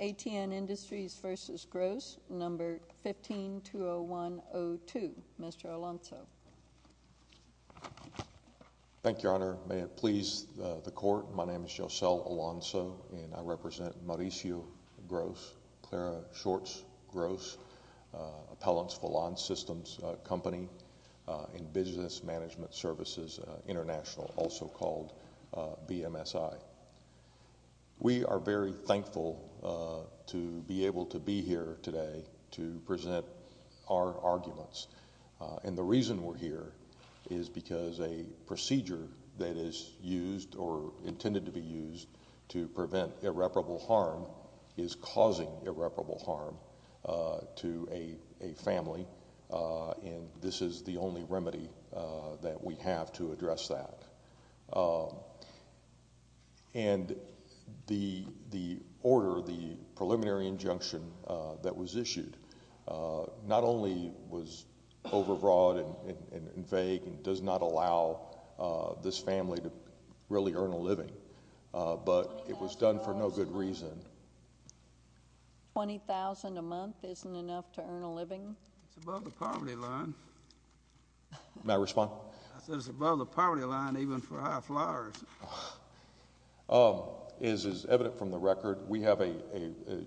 A.T.N. Industries v. Gross, No. 15-20102, Mr. Alonzo. Thank you, Your Honor. May it please the Court, my name is Yosel Alonzo, and I represent Mauricio Gross, Clara Shorts Gross, Appellants for Lawn Systems Company in Business Management Services International, also called BMSI. We are very thankful to be able to be here today to present our arguments. And the reason we're here is because a procedure that is used or intended to be used to prevent irreparable harm is causing irreparable harm to a family, and this is the only remedy that we have to address that. And the order, the preliminary injunction that was issued, not only was overbroad and vague and does not allow this family to really earn a living, but it was done for no good reason. Twenty thousand a month isn't enough to earn a living? It's above the poverty line. May I respond? I said it's above the poverty line even for high flyers. As is evident from the record, we have a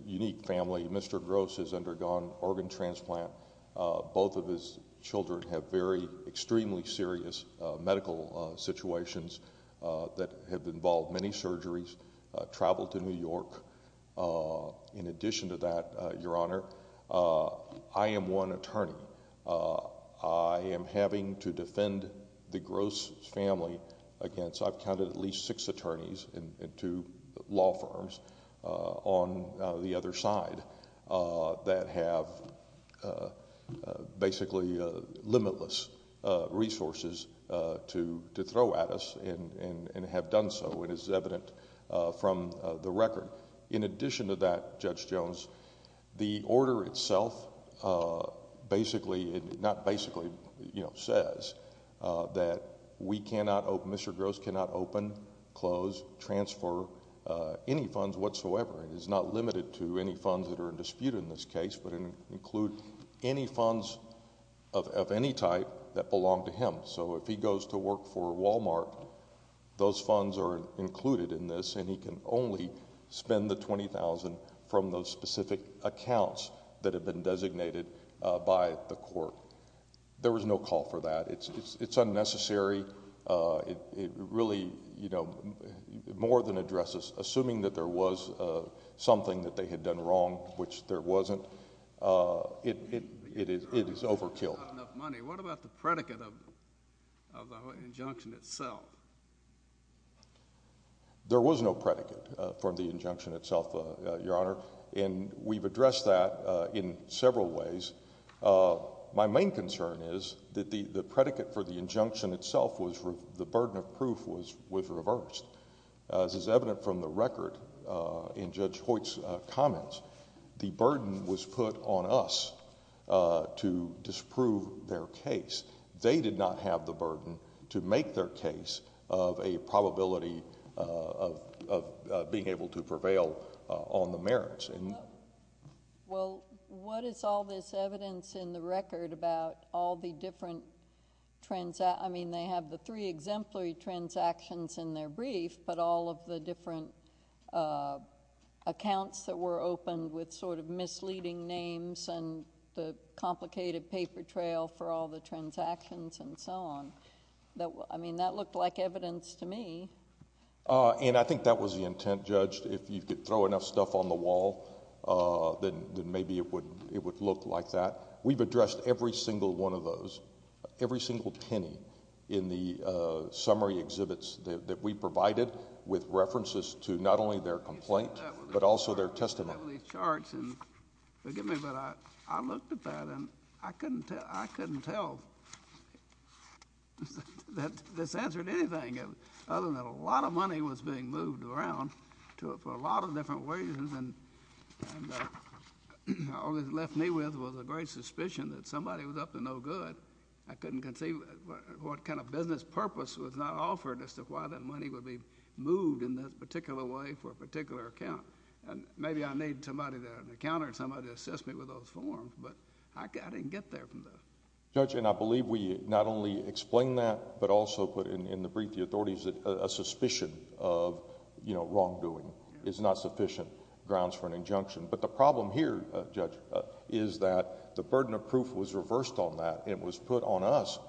unique family. Mr. Gross has undergone organ transplant. Both of his children have very extremely serious medical situations that have involved many surgeries, traveled to New York. In addition to that, Your Honor, I am one attorney. I am having to defend the Gross family against, I've counted at least six attorneys in two law firms on the other side, that have basically limitless resources to throw at us and have done so. It is evident from the record. In addition to that, Judge Jones, the order itself basically, not basically, you know, says that we cannot, Mr. Gross cannot open, close, transfer any funds whatsoever. It is not limited to any funds that are in dispute in this case, but include any funds of any type that belong to him. So if he goes to work for Walmart, those funds are included in this, and he can only spend the $20,000 from those specific accounts that have been designated by the court. There was no call for that. It's unnecessary. It really, you know, more than addresses, assuming that there was something that they had done wrong, which there wasn't, it is overkill. What about the predicate of the Hoyt injunction itself? There was no predicate for the injunction itself, Your Honor, and we've addressed that in several ways. My main concern is that the predicate for the injunction itself was the burden of proof was reversed. As is evident from the record in Judge Hoyt's comments, the burden was put on us to disprove their case. They did not have the burden to make their case of a probability of being able to prevail on the merits. Well, what is all this evidence in the record about all the different transactions? I mean, they have the three exemplary transactions in their brief, but all of the different accounts that were opened with sort of misleading names and the complicated paper trail for all the transactions and so on. I mean, that looked like evidence to me. And I think that was the intent, Judge. If you could throw enough stuff on the wall, then maybe it would look like that. We've addressed every single one of those, every single penny in the summary exhibits that we provided with references to not only their complaint but also their testimony. Forgive me, but I looked at that, and I couldn't tell that this answered anything other than a lot of money was being moved around for a lot of different reasons. And all it left me with was a great suspicion that somebody was up to no good. I couldn't conceive what kind of business purpose was not offered as to why that money would be moved in this particular way for a particular account. And maybe I need somebody that had an account or somebody to assess me with those forms, but I didn't get there from the... Judge, and I believe we not only explained that but also put in the brief the authorities that a suspicion of wrongdoing is not sufficient grounds for an injunction. But the problem here, Judge, is that the burden of proof was reversed on that. It was put on us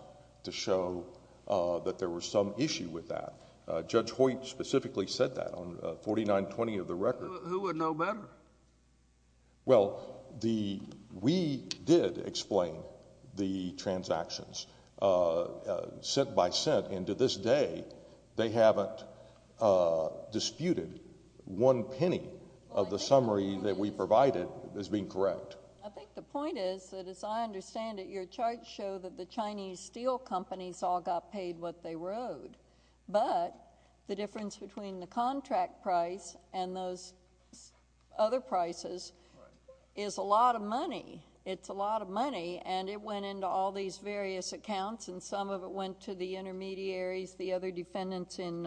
to show that there was some issue with that. Judge Hoyt specifically said that on 4920 of the record. Who would know better? Well, we did explain the transactions set by set, and to this day they haven't disputed one penny of the summary that we provided as being correct. I think the point is that, as I understand it, your charts show that the Chinese steel companies all got paid what they owed. But the difference between the contract price and those other prices is a lot of money. It's a lot of money, and it went into all these various accounts, and some of it went to the intermediaries, the other defendants in...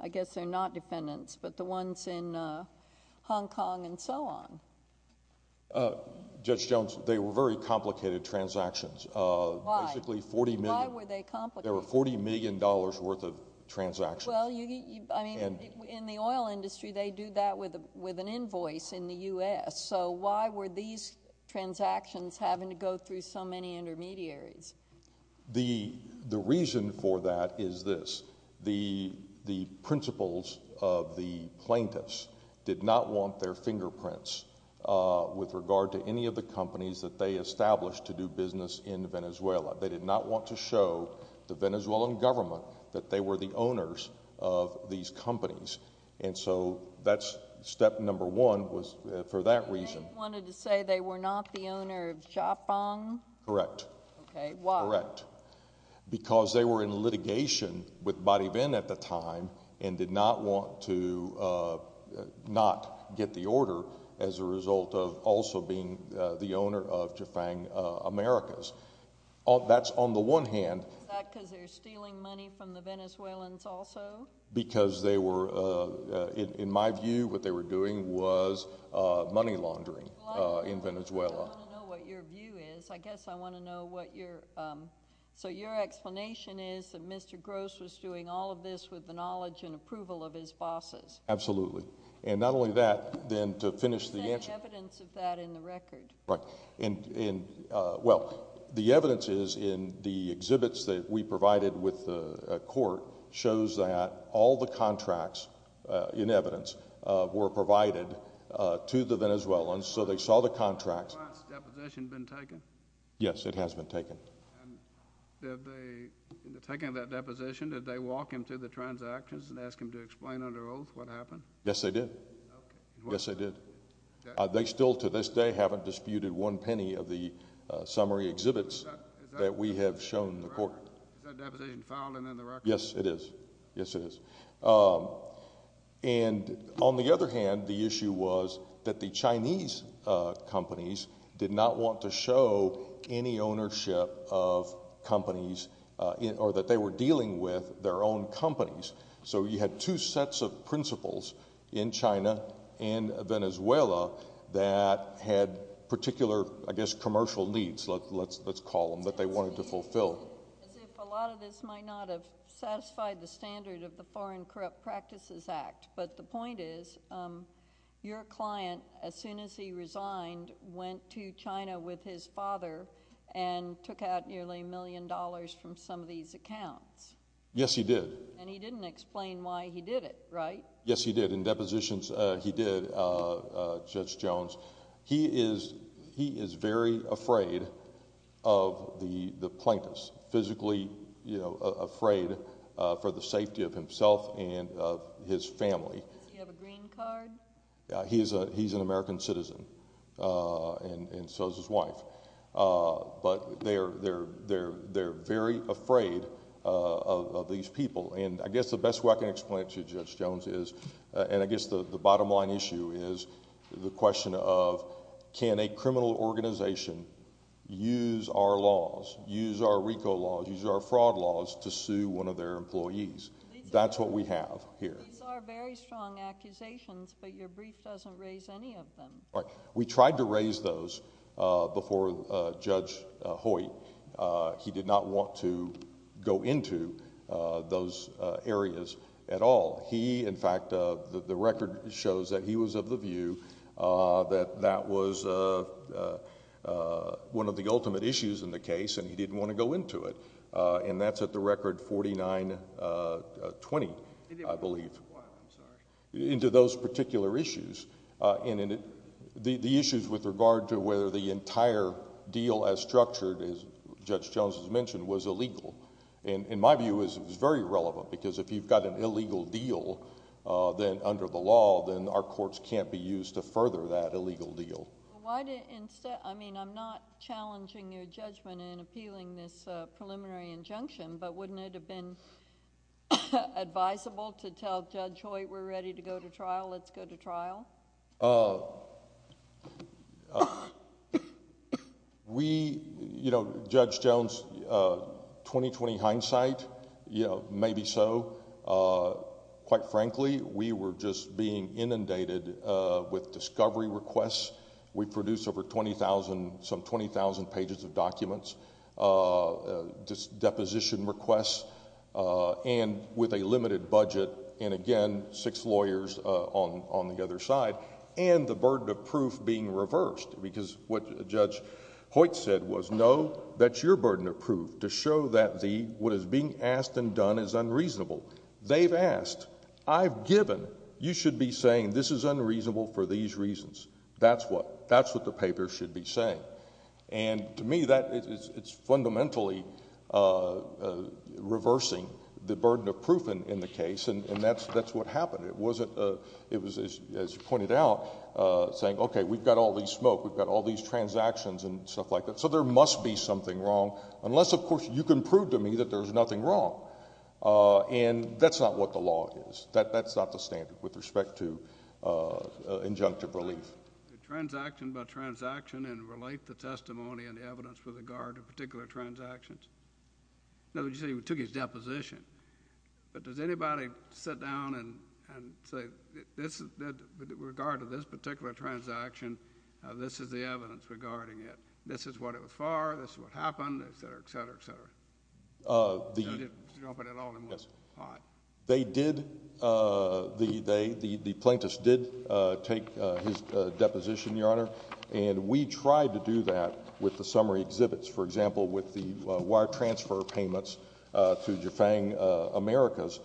I guess they're not defendants, but the ones in Hong Kong and so on. Judge Jones, they were very complicated transactions. Why? Basically, forty million... Why were they complicated? There were forty million dollars worth of transactions. Well, I mean, in the oil industry, they do that with an invoice in the U.S. So, why were these transactions having to go through so many intermediaries? The reason for that is this. The principals of the plaintiffs did not want their fingerprints with regard to any of the companies that they established to do business in Venezuela. They did not want to show the Venezuelan government that they were the owners of these companies. And so, that's step number one was for that reason. They wanted to say they were not the owner of Jafang? Correct. Okay. Why? Correct. Because they were in litigation with Bariven at the time and did not want to not get the order as a result of also being the owner of Jafang Americas. That's on the one hand... Is that because they were stealing money from the Venezuelans also? Because they were, in my view, what they were doing was money laundering in Venezuela. Well, I want to know what your view is. I guess I want to know what your... So, your explanation is that Mr. Gross was doing all of this with the knowledge and approval of his bosses? Absolutely. And not only that, then to finish the answer... There's evidence of that in the record. Right. Well, the evidence is in the exhibits that we provided with the court shows that all the contracts, in evidence, were provided to the Venezuelans. So, they saw the contracts... Has the client's deposition been taken? Yes, it has been taken. And did they, in the taking of that deposition, did they walk him through the transactions and ask him to explain under oath what happened? Yes, they did. Okay. Yes, they did. They still, to this day, haven't disputed one penny of the summary exhibits that we have shown the court. Is that deposition filed and in the record? Yes, it is. Yes, it is. And, on the other hand, the issue was that the Chinese companies did not want to show any ownership of companies or that they were dealing with their own companies. So, you had two sets of principles in China and Venezuela that had particular, I guess, commercial needs, let's call them, that they wanted to fulfill. As if a lot of this might not have satisfied the standard of the Foreign Corrupt Practices Act. But, the point is, your client, as soon as he resigned, went to China with his father and took out nearly a million dollars from some of these accounts. Yes, he did. And he didn't explain why he did it, right? Yes, he did. In depositions, he did, Judge Jones. He is very afraid of the plaintiffs, physically afraid for the safety of himself and of his family. Does he have a green card? He's an American citizen and so is his wife. But, they're very afraid of these people. And, I guess the best way I can explain it to you, Judge Jones, is, and I guess the bottom line issue is, the question of, can a criminal organization use our laws, use our RICO laws, use our fraud laws to sue one of their employees? That's what we have here. These are very strong accusations, but your brief doesn't raise any of them. We tried to raise those before Judge Hoyt. He did not want to go into those areas at all. He, in fact, the record shows that he was of the view that that was one of the ultimate issues in the case, and he didn't want to go into it. And that's at the record 49-20, I believe. Into those particular issues. And, the issues with regard to whether the entire deal as structured, as Judge Jones has mentioned, was illegal. In my view, it was very relevant, because if you've got an illegal deal, then under the law, then our courts can't be used to further that illegal deal. Why did... I mean, I'm not challenging your judgment in appealing this preliminary injunction, but wouldn't it have been advisable to tell Judge Hoyt, we're ready to go to trial, let's go to trial? We, you know, Judge Jones, 20-20 hindsight, maybe so. Quite frankly, we were just being inundated with discovery requests. We produced over 20,000, some 20,000 pages of documents. Deposition requests, and with a limited budget, and again, six lawyers on the other side, and the burden of proof being reversed. Because what Judge Hoyt said was, no, that's your burden of proof to show that what is being asked and done is unreasonable. They've asked. I've given. You should be saying, this is unreasonable for these reasons. That's what the paper should be saying. And to me, that is fundamentally reversing the burden of proof in the case, and that's what happened. It wasn't... it was, as you pointed out, saying, okay, we've got all these smoke, we've got all these transactions and stuff like that, so there must be something wrong. Unless, of course, you can prove to me that there's nothing wrong. And that's not what the law is. That's not the standard with respect to injunctive relief. Did transaction by transaction and relate the testimony and the evidence with regard to particular transactions? No, but you say he took his deposition. But does anybody sit down and say, with regard to this particular transaction, this is the evidence regarding it. This is what it was for. This is what happened, et cetera, et cetera, et cetera. You didn't drop it at all, and it was hot. They did... the plaintiffs did take his deposition, Your Honor, and we tried to do that with the summary exhibits. For example, with the wire transfer payments to Jafang Americas,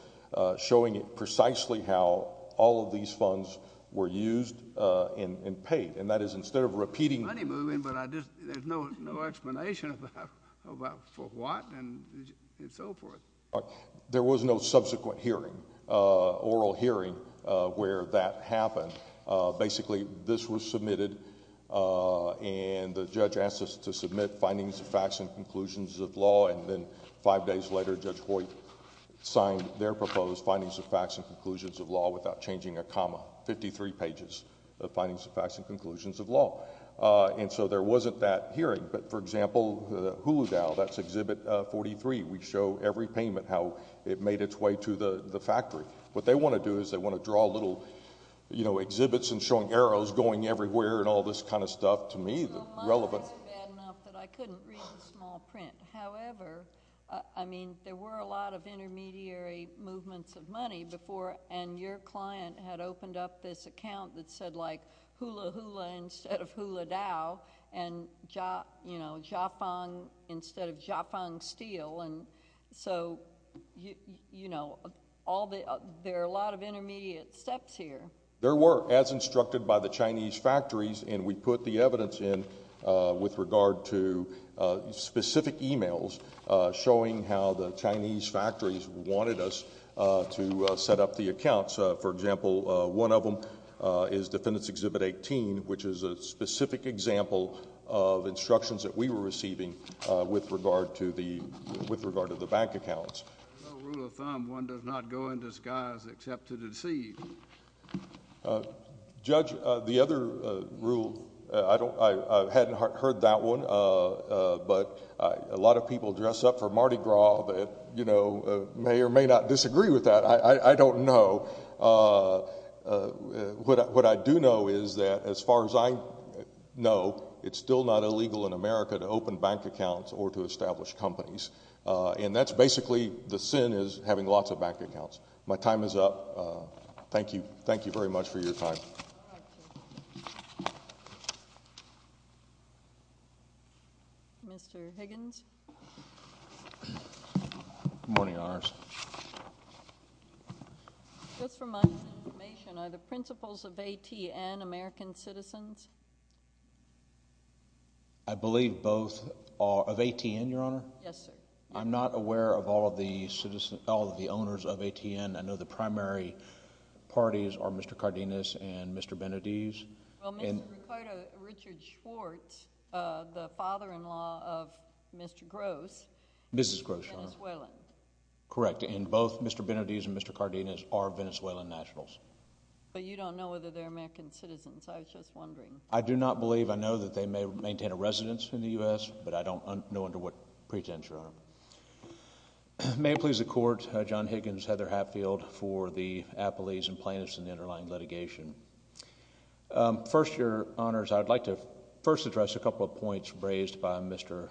showing precisely how all of these funds were used and paid. And that is instead of repeating... There's money moving, but there's no explanation about for what and so forth. There was no subsequent hearing, oral hearing, where that happened. Basically, this was submitted, and the judge asked us to submit findings, facts, and conclusions of law. And then five days later, Judge Hoyt signed their proposed findings, facts, and conclusions of law without changing a comma. Fifty-three pages of findings, facts, and conclusions of law. And so there wasn't that hearing. But, for example, Hula Dow, that's Exhibit 43. We show every payment, how it made its way to the factory. What they want to do is they want to draw little, you know, exhibits and showing arrows going everywhere and all this kind of stuff. To me, the relevant... No, mine was bad enough that I couldn't read the small print. However, I mean, there were a lot of intermediary movements of money before, and your client had opened up this account that said, like, Hula Hula instead of Hula Dow, and, you know, Jafang instead of Jafang Steel. And so, you know, there are a lot of intermediate steps here. There were, as instructed by the Chinese factories, and we put the evidence in with regard to specific emails, showing how the Chinese factories wanted us to set up the accounts. For example, one of them is Defendant's Exhibit 18, which is a specific example of instructions that we were receiving with regard to the bank accounts. There's no rule of thumb. One does not go in disguise except to deceive. Judge, the other rule... I hadn't heard that one, but a lot of people dress up for Mardi Gras that, you know, may or may not disagree with that. I don't know. What I do know is that, as far as I know, it's still not illegal in America to open bank accounts or to establish companies. And that's basically... the sin is having lots of bank accounts. My time is up. Thank you. Thank you very much for your time. Mr. Higgins? Good morning, Your Honors. Just for my information, are the principals of ATN American citizens? I believe both are... of ATN, Your Honor? Yes, sir. I'm not aware of all of the citizens... all of the owners of ATN. I know the primary parties are Mr. Cardenas and Mr. Benediz. Well, Mr. Riccardo Richard Schwartz, the father-in-law of Mr. Gross... Mrs. Gross, Your Honor.... is Venezuelan. Correct. And both Mr. Benediz and Mr. Cardenas are Venezuelan nationals. But you don't know whether they're American citizens. I was just wondering. I do not believe... I know that they may maintain a residence in the U.S. but I don't know under what pretense, Your Honor. May it please the Court, John Higgins, Heather Hatfield for the appellees and plaintiffs in the underlying litigation. First, Your Honors, I'd like to first address a couple of points raised by Mr.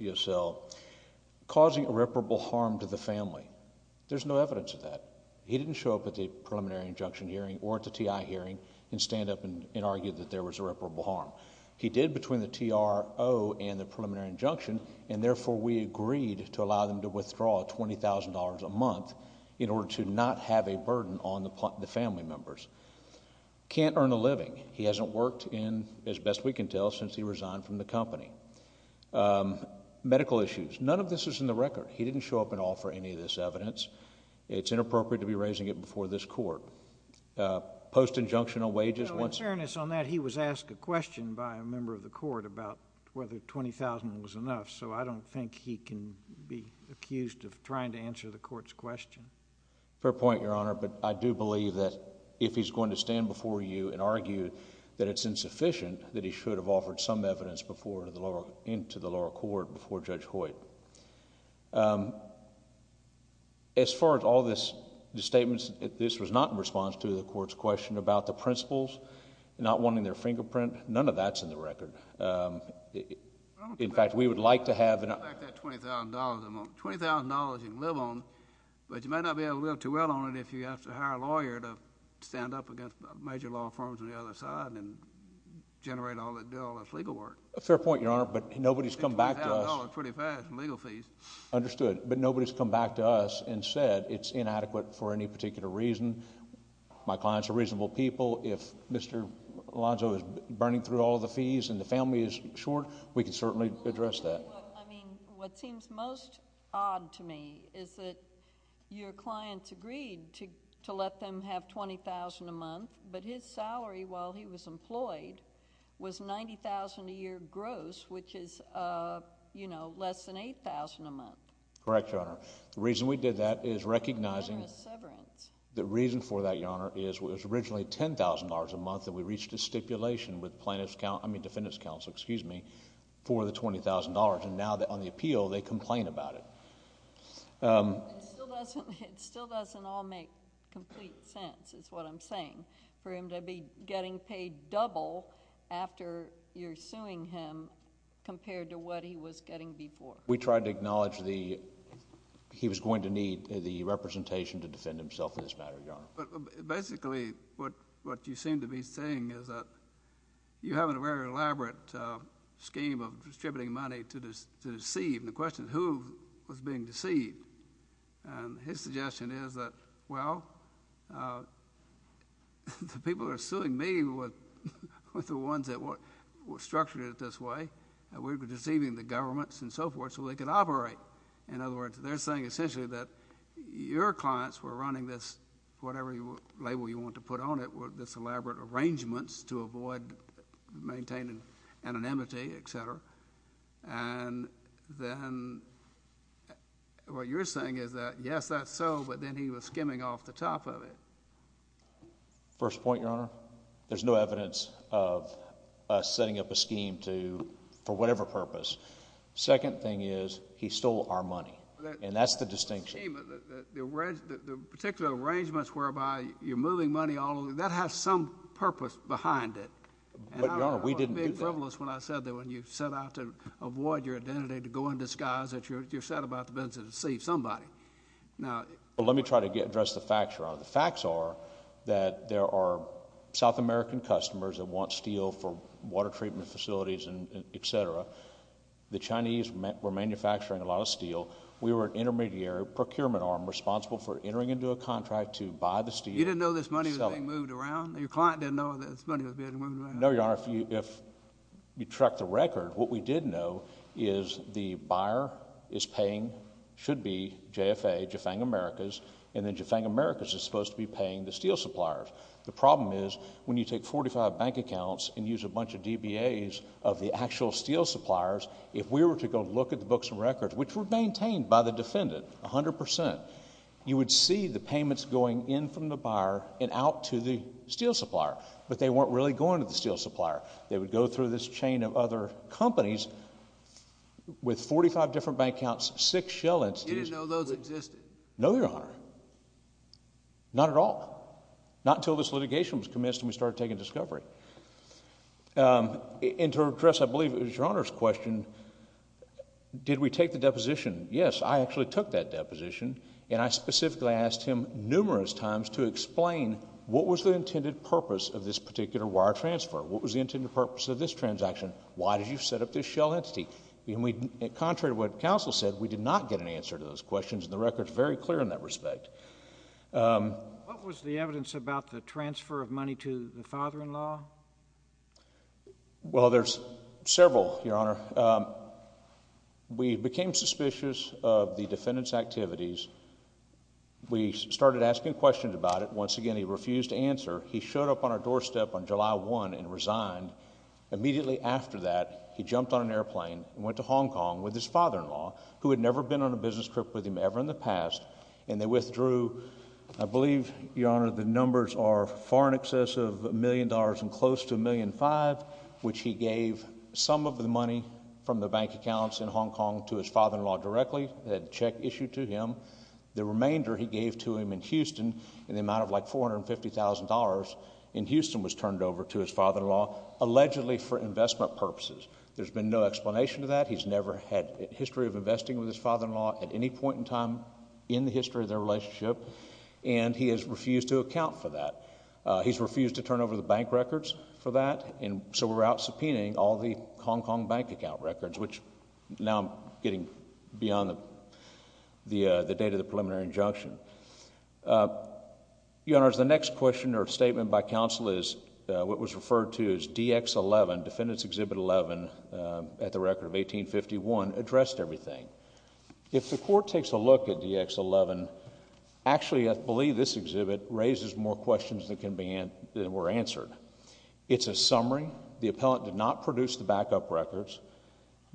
Yossel. Causing irreparable harm to the family. There's no evidence of that. He didn't show up at the preliminary injunction hearing or at the T.I. hearing and stand up and argue that there was irreparable harm. He did between the T.R.O. and the preliminary injunction and therefore we agreed to allow them to withdraw $20,000 a month in order to not have a burden on the family members. Can't earn a living. He hasn't worked in, as best we can tell, since he resigned from the company. Medical issues. None of this is in the record. He didn't show up at all for any of this evidence. It's inappropriate to be raising it before this Court. Post-injunctional wages. In fairness on that, he was asked a question by a member of the Court about whether $20,000 was enough, so I don't think he can be accused of trying to answer the Court's question. Fair point, Your Honor, but I do believe that if he's going to stand before you and argue that it's insufficient that he should have offered some evidence into the lower court before Judge Hoyt. As far as all these statements, this was not in response to the Court's question about the principles, not wanting their fingerprint. None of that's in the record. In fact, we would like to have... I don't expect that $20,000 a month. $20,000 you can live on, but you might not be able to live too well on it if you have to hire a lawyer to stand up against major law firms on the other side and generate all... do all this legal work. Fair point, Your Honor, but nobody's come back to us... $20,000 pretty fast in legal fees. Understood, but nobody's come back to us and said it's inadequate for any particular reason. My clients are reasonable people. If Mr. Alonzo is burning through all the fees and the family is short, we can certainly address that. I mean, what seems most odd to me is that your clients agreed to let them have $20,000 a month, but his salary while he was employed was $90,000 a year gross, which is, you know, less than $8,000 a month. Correct, Your Honor. The reason we did that is recognizing... Generous severance. The reason for that, Your Honor, is it was originally $10,000 a month that we reached a stipulation with plaintiffs' counsel... I mean, defendants' counsel, excuse me, for the $20,000, and now on the appeal they complain about it. It still doesn't all make complete sense, is what I'm saying, for him to be getting paid double after you're suing him compared to what he was getting before. We tried to acknowledge he was going to need the representation to defend himself in this matter, Your Honor. Basically, what you seem to be saying is that you have a very elaborate scheme of distributing money to deceive. And the question is, who was being deceived? And his suggestion is that, well, the people who are suing me were the ones that structured it this way. We were deceiving the governments and so forth so they could operate. In other words, they're saying essentially that your clients were running this, whatever label you want to put on it, this elaborate arrangement to avoid maintaining anonymity, et cetera, and then what you're saying is that, yes, that's so, but then he was skimming off the top of it. First point, Your Honor, there's no evidence of us setting up a scheme for whatever purpose. Second thing is he stole our money, and that's the distinction. The particular arrangements whereby you're moving money all over, that has some purpose behind it. But, Your Honor, we didn't do that. It was frivolous when I said that when you set out to avoid your identity to go in disguise that you're set about the business of deceiving somebody. Let me try to address the facts, Your Honor. The facts are that there are South American customers that want steel for water treatment facilities, et cetera. The Chinese were manufacturing a lot of steel. We were an intermediary procurement arm responsible for entering into a contract to buy the steel. You didn't know this money was being moved around? Your client didn't know this money was being moved around? No, Your Honor. If you track the record, what we did know is the buyer is paying, should be, JFA, Jafang Americas, and then Jafang Americas is supposed to be paying the steel suppliers. The problem is when you take 45 bank accounts and use a bunch of DBAs of the actual steel suppliers, if we were to go look at the books and records, which were maintained by the defendant 100%, you would see the payments going in from the buyer and out to the steel supplier, but they weren't really going to the steel supplier. They would go through this chain of other companies with 45 different bank accounts, six shell entities. You didn't know those existed? No, Your Honor. Not at all. Not until this litigation was commenced and we started taking discovery. And to address, I believe, Your Honor's question, did we take the deposition? Yes, I actually took that deposition, and I specifically asked him numerous times to explain what was the intended purpose of this particular wire transfer? What was the intended purpose of this transaction? Why did you set up this shell entity? And contrary to what counsel said, we did not get an answer to those questions, and the record's very clear in that respect. What was the evidence about the transfer of money to the father-in-law? Well, there's several, Your Honor. We became suspicious of the defendant's activities. We started asking questions about it. Once again, he refused to answer. He showed up on our doorstep on July 1 and resigned. Immediately after that, he jumped on an airplane and went to Hong Kong with his father-in-law, who had never been on a business trip with him ever in the past, and they withdrew, I believe, Your Honor, the numbers are far in excess of $1 million and close to $1.5 million, which he gave some of the money from the bank accounts in Hong Kong to his father-in-law directly, the check issued to him. The remainder he gave to him in Houston, in the amount of like $450,000 in Houston, was turned over to his father-in-law, allegedly for investment purposes. There's been no explanation to that. He's never had a history of investing with his father-in-law at any point in time in the history of their relationship, and he has refused to account for that. He's refused to turn over the bank records for that, and so we're out subpoenaing all the Hong Kong bank account records, which now I'm getting beyond the date of the preliminary injunction. Your Honor, the next question or statement by counsel is what was referred to as DX11, Defendant's Exhibit 11, at the record of 1851, addressed everything. If the Court takes a look at DX11, actually I believe this exhibit raises more questions than were answered. It's a summary. The appellant did not produce the backup records.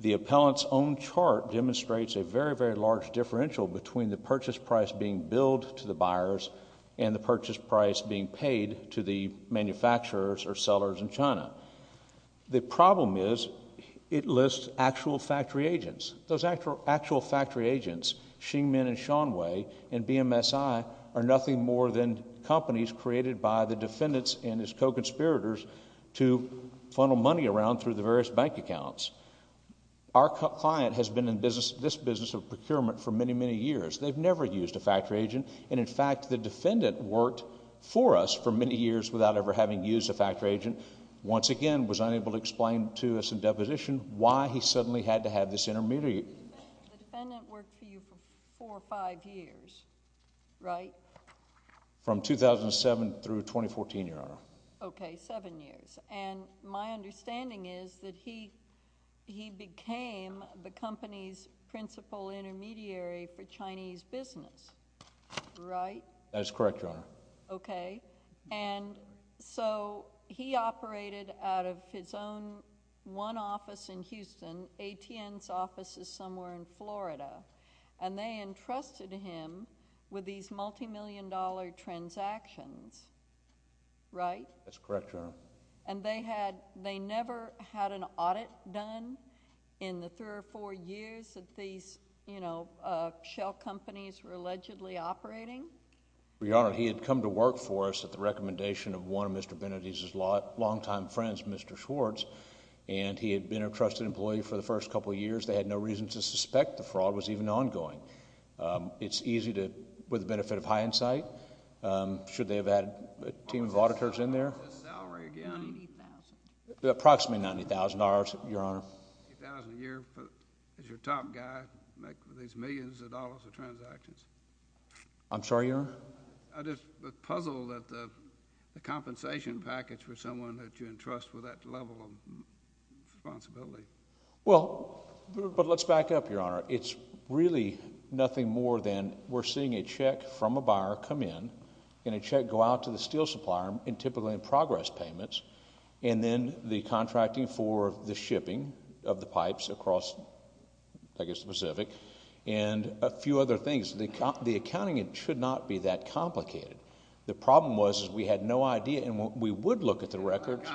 The appellant's own chart demonstrates a very, very large differential between the purchase price being billed to the buyers and the purchase price being paid to the manufacturers or sellers in China. The problem is it lists actual factory agents. Those actual factory agents, Xingmin and Shanwei and BMSI, are nothing more than companies created by the defendants and his co-conspirators to funnel money around through the various bank accounts. Our client has been in this business of procurement for many, many years. They've never used a factory agent, and in fact the defendant worked for us for many years without ever having used a factory agent, once again was unable to explain to us in deposition why he suddenly had to have this intermediary. The defendant worked for you for four or five years, right? From 2007 through 2014, Your Honor. Okay, seven years. And my understanding is that he became the company's principal intermediary for Chinese business, right? That is correct, Your Honor. Okay. And so he operated out of his own one office in Houston. ATN's office is somewhere in Florida. And they entrusted him with these multimillion-dollar transactions, right? That's correct, Your Honor. And they never had an audit done in the three or four years that these shell companies were allegedly operating? Your Honor, he had come to work for us at the recommendation of one of Mr. Benedict's longtime friends, Mr. Schwartz, the fraud was even ongoing. It's easy to, with the benefit of hindsight, should they have had a team of auditors in there? What was his salary again? $90,000. Approximately $90,000, Your Honor. $90,000 a year, as your top guy, to make these millions of dollars of transactions? I'm sorry, Your Honor? I just was puzzled that the compensation package for someone that you entrust with that level of responsibility. Well, but let's back up, Your Honor. It's really nothing more than we're seeing a check from a buyer come in, and a check go out to the steel supplier, and typically in progress payments, and then the contracting for the shipping of the pipes across, I guess, the Pacific, and a few other things. The accounting should not be that complicated. The problem was is we had no idea, and we would look at the records.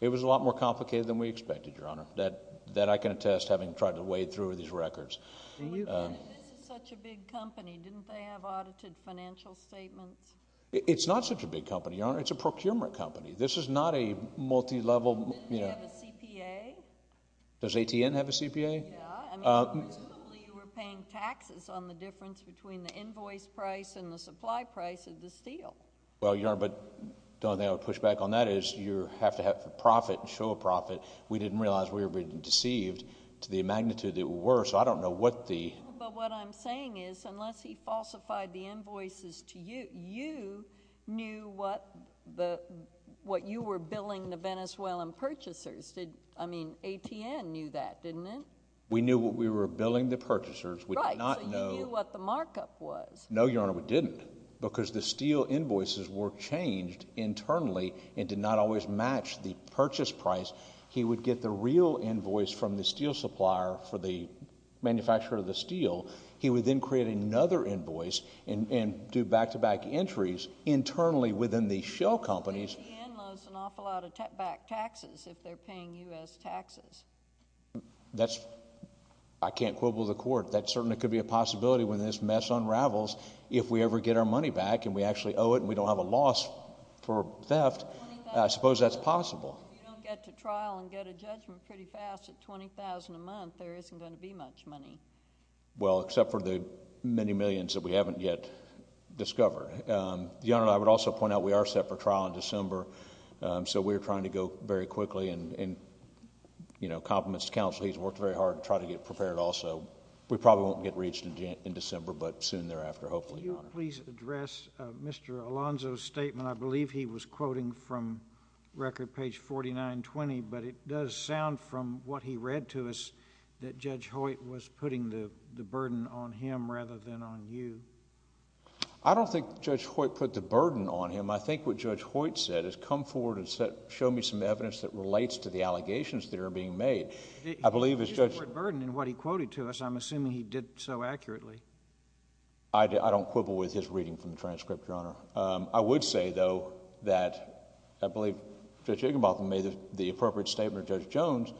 It was a lot more complicated than we expected. That I can attest, having tried to wade through these records. This is such a big company. Didn't they have audited financial statements? It's not such a big company, Your Honor. It's a procurement company. This is not a multi-level. Doesn't it have a CPA? Does ATN have a CPA? Yeah. I mean, presumably you were paying taxes on the difference between the invoice price and the supply price of the steel. Well, Your Honor, but the only thing I would push back on that is you have to have a profit, show a profit. We didn't realize we were being deceived to the magnitude that we were, so I don't know what the... But what I'm saying is unless he falsified the invoices to you, you knew what you were billing the Venezuelan purchasers. I mean, ATN knew that, didn't it? We knew what we were billing the purchasers. Right, so you knew what the markup was. No, Your Honor, we didn't because the steel invoices were changed internally and did not always match the purchase price. He would get the real invoice from the steel supplier for the manufacturer of the steel. He would then create another invoice and do back-to-back entries internally within the shell companies. ATN owes an awful lot of back taxes if they're paying U.S. taxes. That's... I can't quibble the court. That certainly could be a possibility when this mess unravels, if we ever get our money back and we actually owe it and we don't have a loss for theft, I suppose that's possible. If you don't get to trial and get a judgment pretty fast at $20,000 a month, there isn't going to be much money. Well, except for the many millions that we haven't yet discovered. Your Honor, I would also point out we are set for trial in December, so we're trying to go very quickly and compliments to counsel. He's worked very hard to try to get prepared also. We probably won't get reached in December, but soon thereafter, hopefully, Your Honor. Could I please address Mr. Alonzo's statement? I believe he was quoting from record page 4920, but it does sound from what he read to us that Judge Hoyt was putting the burden on him rather than on you. I don't think Judge Hoyt put the burden on him. I think what Judge Hoyt said is come forward and show me some evidence that relates to the allegations that are being made. I believe as Judge... He put the word burden in what he quoted to us. I'm assuming he did so accurately. I don't quibble with his reading from the transcript, Your Honor. I would say, though, that I believe Judge Igbenbotham made the appropriate statement of Judge Jones.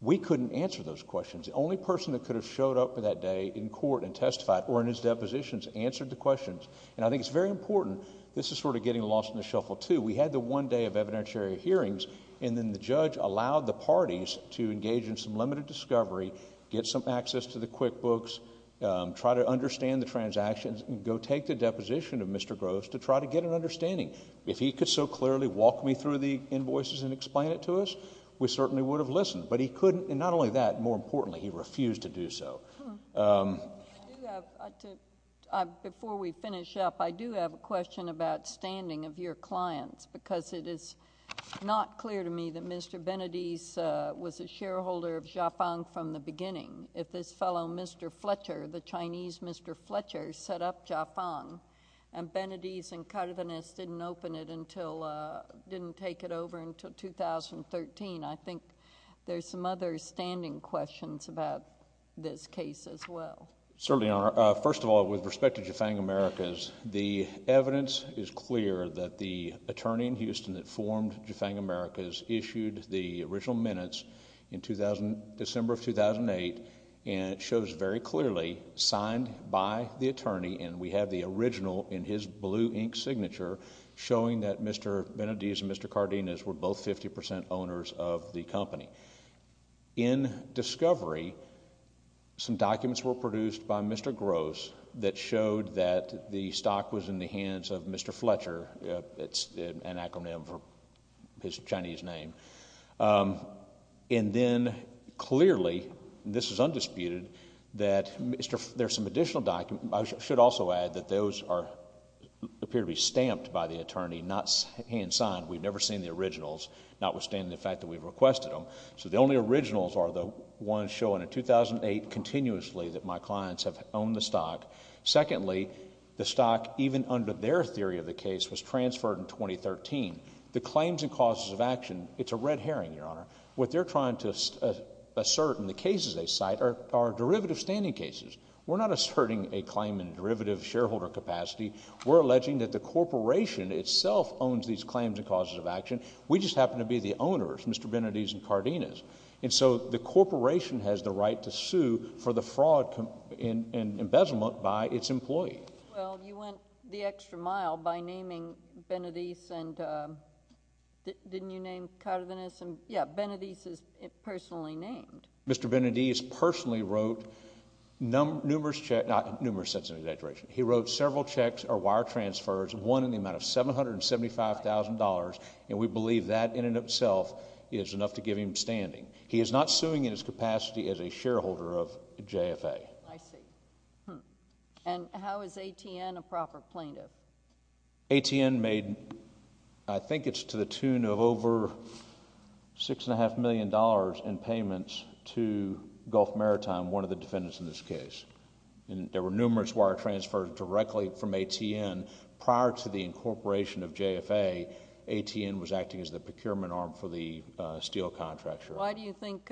We couldn't answer those questions. The only person that could have showed up that day in court and testified or in his depositions answered the questions. And I think it's very important. This is sort of getting lost in the shuffle, too. We had the one day of evidentiary hearings, and then the judge allowed the parties to engage in some limited discovery, get some access to the QuickBooks, try to understand the transactions, and go take the deposition of Mr. Groves to try to get an understanding. If he could so clearly walk me through the invoices and explain it to us, we certainly would have listened. But he couldn't. And not only that, more importantly, he refused to do so. Before we finish up, I do have a question about standing of your clients because it is not clear to me that Mr. Benedict was a shareholder of Jafang from the beginning. If this fellow, Mr. Fletcher, the Chinese Mr. Fletcher, set up Jafang and Benedict and Carvinist didn't open it until... didn't take it over until 2013, I think there's some other standing questions about this case as well. Certainly, Your Honor. First of all, with respect to Jafang Americas, the evidence is clear that the attorney in Houston that formed Jafang Americas issued the original minutes in December of 2008, and it shows very clearly signed by the attorney, and we have the original in his blue ink signature showing that Mr. Benedict and Mr. Cardenas were both 50% owners of the company. In discovery, some documents were produced by Mr. Groves that showed that the stock was in the hands of Mr. Fletcher. It's an acronym for his Chinese name. And then clearly, this is undisputed, that there's some additional documents. I should also add that those appear to be stamped by the attorney, not hand-signed. We've never seen the originals, notwithstanding the fact that we've requested them. So the only originals are the ones showing in 2008 continuously that my clients have owned the stock. Secondly, the stock, even under their theory of the case, was transferred in 2013. The claims and causes of action, it's a red herring, Your Honor. What they're trying to assert in the cases they cite are derivative standing cases. We're not asserting a claim in derivative shareholder capacity. We're alleging that the corporation itself owns these claims and causes of action. We just happen to be the owners, Mr. Benedis and Cardenas. And so the corporation has the right to sue for the fraud and embezzlement by its employee. Well, you went the extra mile by naming Benedis and didn't you name Cardenas? Yeah, Benedis is personally named. Mr. Benedis personally wrote numerous checks. Numerous is an exaggeration. He wrote several checks or wire transfers, one in the amount of $775,000, and we believe that in and of itself is enough to give him standing. He is not suing in his capacity as a shareholder of JFA. I see. And how is ATN a proper plaintiff? ATN made, I think it's to the tune of over $6.5 million in payments to Gulf Maritime, one of the defendants in this case. There were numerous wire transfers directly from ATN. Prior to the incorporation of JFA, ATN was acting as the procurement arm for the steel contract. Why do you think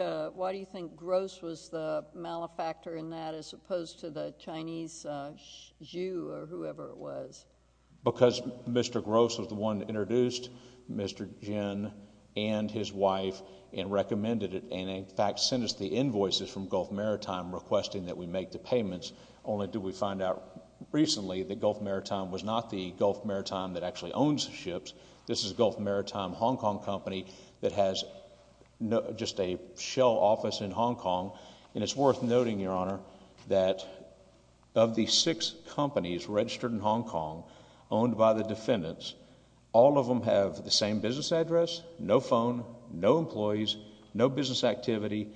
Gross was the malefactor in that as opposed to the Chinese Zhu or whoever it was? Because Mr. Gross was the one that introduced Mr. Jin and his wife and recommended it and, in fact, sent us the invoices from Gulf Maritime requesting that we make the payments, only did we find out recently that Gulf Maritime was not the Gulf Maritime that actually owns the ships. This is Gulf Maritime Hong Kong company that has just a shell office in Hong Kong. And it's worth noting, Your Honor, that of the six companies registered in Hong Kong owned by the defendants, all of them have the same business address, no phone, no employees, no business activity,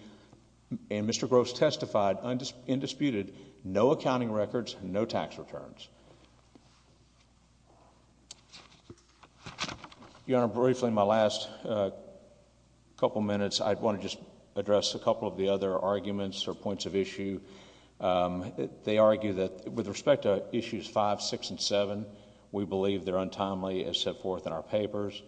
and Mr. Gross testified undisputed, no accounting records, no tax returns. Your Honor, briefly in my last couple minutes, I want to just address a couple of the other arguments or points of issue. They argue that with respect to issues five, six, and seven, we believe they're untimely as set forth in our papers.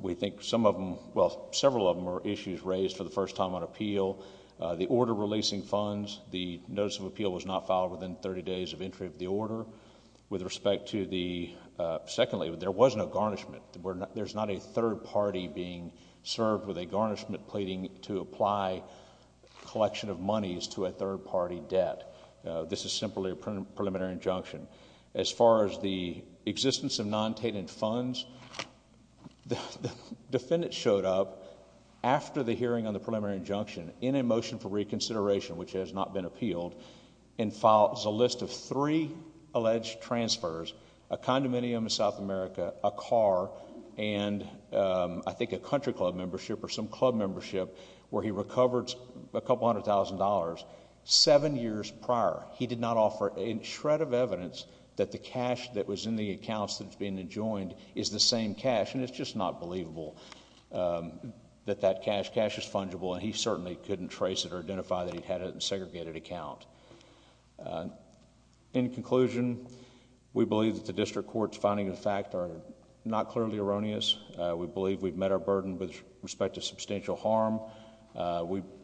We think some of them, well, several of them are issues raised for the first time on appeal. The order releasing funds, the notice of appeal was not filed within 30 days of entry of the order. With respect to the, secondly, there was no garnishment. There's not a third party being served with a garnishment pleading to apply collection of monies to a third party debt. This is simply a preliminary injunction. As far as the existence of non-tainted funds, the defendant showed up after the hearing on the preliminary injunction in a motion for reconsideration, which has not been appealed, and filed a list of three alleged transfers, a condominium in South America, a car, and I think a country club membership or some club membership where he recovered a couple hundred thousand dollars seven years prior. He did not offer a shred of evidence that the cash that was in the accounts that's being enjoined is the same cash, and it's just not believable that that cash, cash is fungible, and he certainly couldn't trace it or identify that he'd had a segregated account. In conclusion, we believe that the district court's finding of the fact are not clearly erroneous. We believe we've met our burden with respect to substantial harm.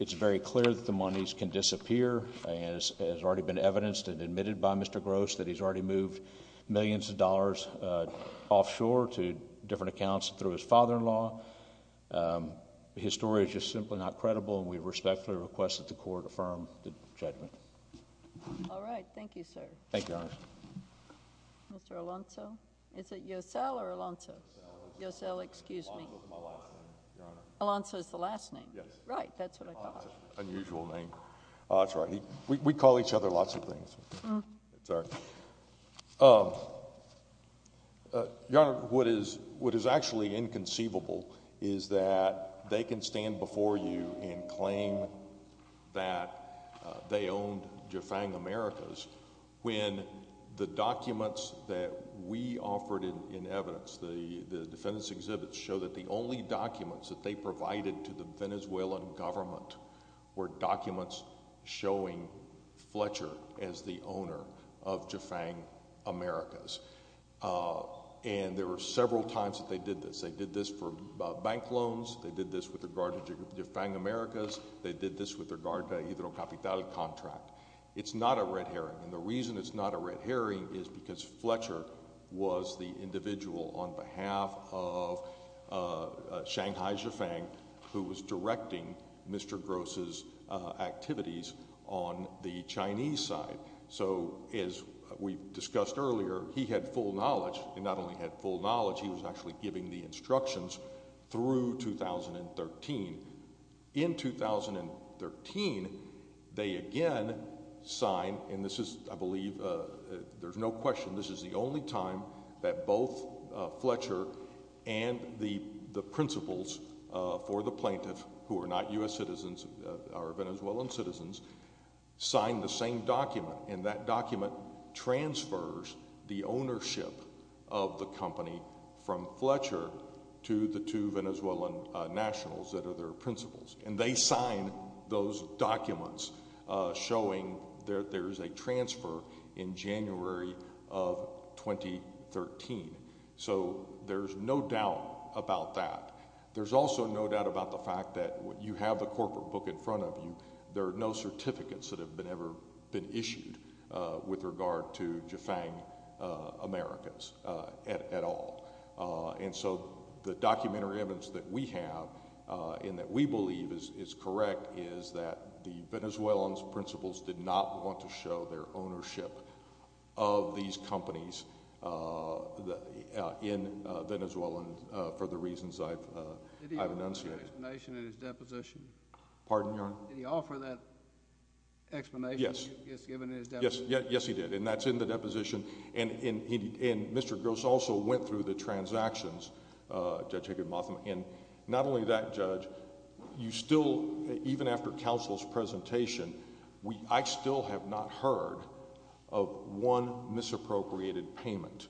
It's very clear that the monies can disappear. It has already been evidenced and admitted by Mr. Gross that he's already moved millions of dollars offshore His story is just simply not credible, and we respectfully request that the court affirm the judgment. All right. Thank you, sir. Thank you, Your Honor. Mr. Alonzo? Is it Yosel or Alonzo? Yosel. Yosel, excuse me. Alonzo is my last name, Your Honor. Alonzo is the last name? Yes. Right, that's what I thought. Unusual name. That's right. We call each other lots of things. Sorry. Your Honor, what is actually inconceivable is that they can stand before you and claim that they owned Jafang Americas when the documents that we offered in evidence, the defendants' exhibits, show that the only documents that they provided to the Venezuelan government were documents showing Fletcher as the owner of Jafang Americas. And there were several times that they did this. They did this for bank loans. They did this with regard to Jafang Americas. They did this with regard to a hydrocapital contract. It's not a red herring, and the reason it's not a red herring is because Fletcher was the individual on behalf of Shanghai Jafang who was directing Mr. Gross's activities on the Chinese side. So as we discussed earlier, he had full knowledge. He not only had full knowledge, he was actually giving the instructions through 2013. In 2013, they again signed, and this is, I believe, there's no question, this is the only time that both Fletcher and the principals for the plaintiff, who are not U.S. citizens, are Venezuelan citizens, signed the same document, and that document transfers the ownership of the company from Fletcher to the two Venezuelan nationals that are their principals. And they signed those documents showing that there's a transfer in January of 2013. So there's no doubt about that. There's also no doubt about the fact that you have the corporate book in front of you. There are no certificates that have ever been issued with regard to Jafang Americas at all. And so the documentary evidence that we have and that we believe is correct is that the Venezuelan principals did not want to show their ownership of these companies in Venezuela for the reasons I've enunciated. Did he offer that explanation in his deposition? Pardon, Your Honor? Did he offer that explanation he has given in his deposition? And Mr. Gross also went through the transactions, Judge Higginbotham, and not only that, Judge, you still, even after counsel's presentation, I still have not heard of one misappropriated payment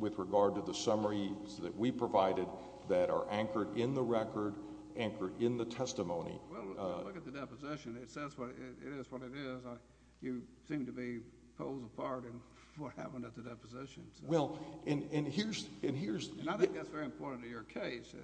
with regard to the summaries that we provided that are anchored in the record, anchored in the testimony. Well, look at the deposition. It says what it is, what it is. So you seem to be poles apart in what happened at the deposition. Well, and here's... And I think that's very important to your case.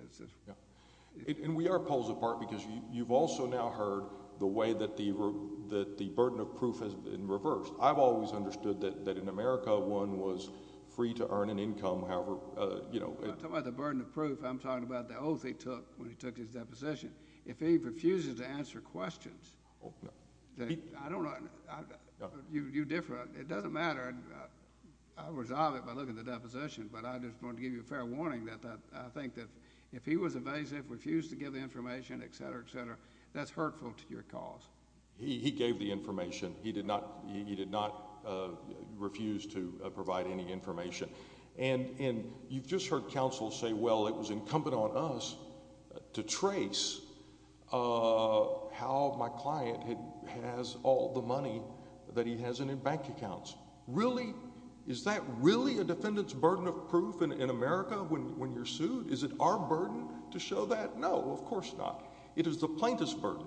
And we are poles apart because you've also now heard the way that the burden of proof has been reversed. I've always understood that in America one was free to earn an income, however... When I talk about the burden of proof, I'm talking about the oath he took when he took his deposition. If he refuses to answer questions, I don't know. You differ. It doesn't matter. I'll resolve it by looking at the deposition. But I just wanted to give you a fair warning that I think that if he was evasive, refused to give the information, etc., etc., that's hurtful to your cause. He gave the information. He did not refuse to provide any information. And you've just heard counsel say, well, it was incumbent on us to trace how my client has all the money that he has in his bank accounts. Really? Is that really a defendant's burden of proof in America when you're sued? Is it our burden to show that? No, of course not. It is the plaintiff's burden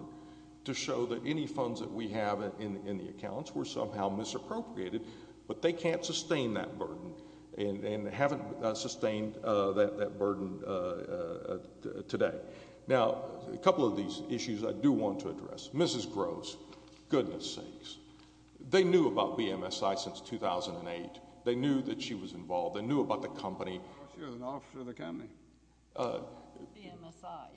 to show that any funds that we have in the accounts were somehow misappropriated. But they can't sustain that burden and haven't sustained that burden today. Now, a couple of these issues I do want to address. Mrs. Gross, goodness sakes, they knew about BMSI since 2008. They knew that she was involved. They knew about the company. She was an officer of the company.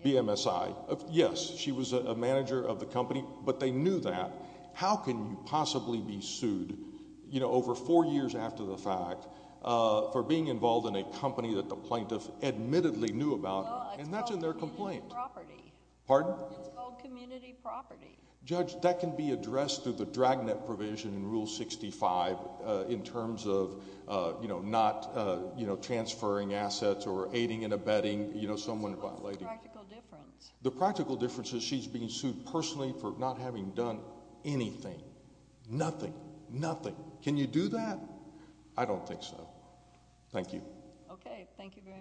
BMSI, yes. She was a manager of the company. But they knew that. How can you possibly be sued over four years after the fact for being involved in a company that the plaintiff admittedly knew about, and that's in their complaint? It's called community property. Pardon? It's called community property. Judge, that can be addressed through the Dragnet provision in Rule 65 in terms of not transferring assets or aiding and abetting someone. What's the practical difference? The practical difference is she's being sued personally for not having done anything. Nothing. Nothing. Can you do that? I don't think so. Thank you. Okay. Thank you very much.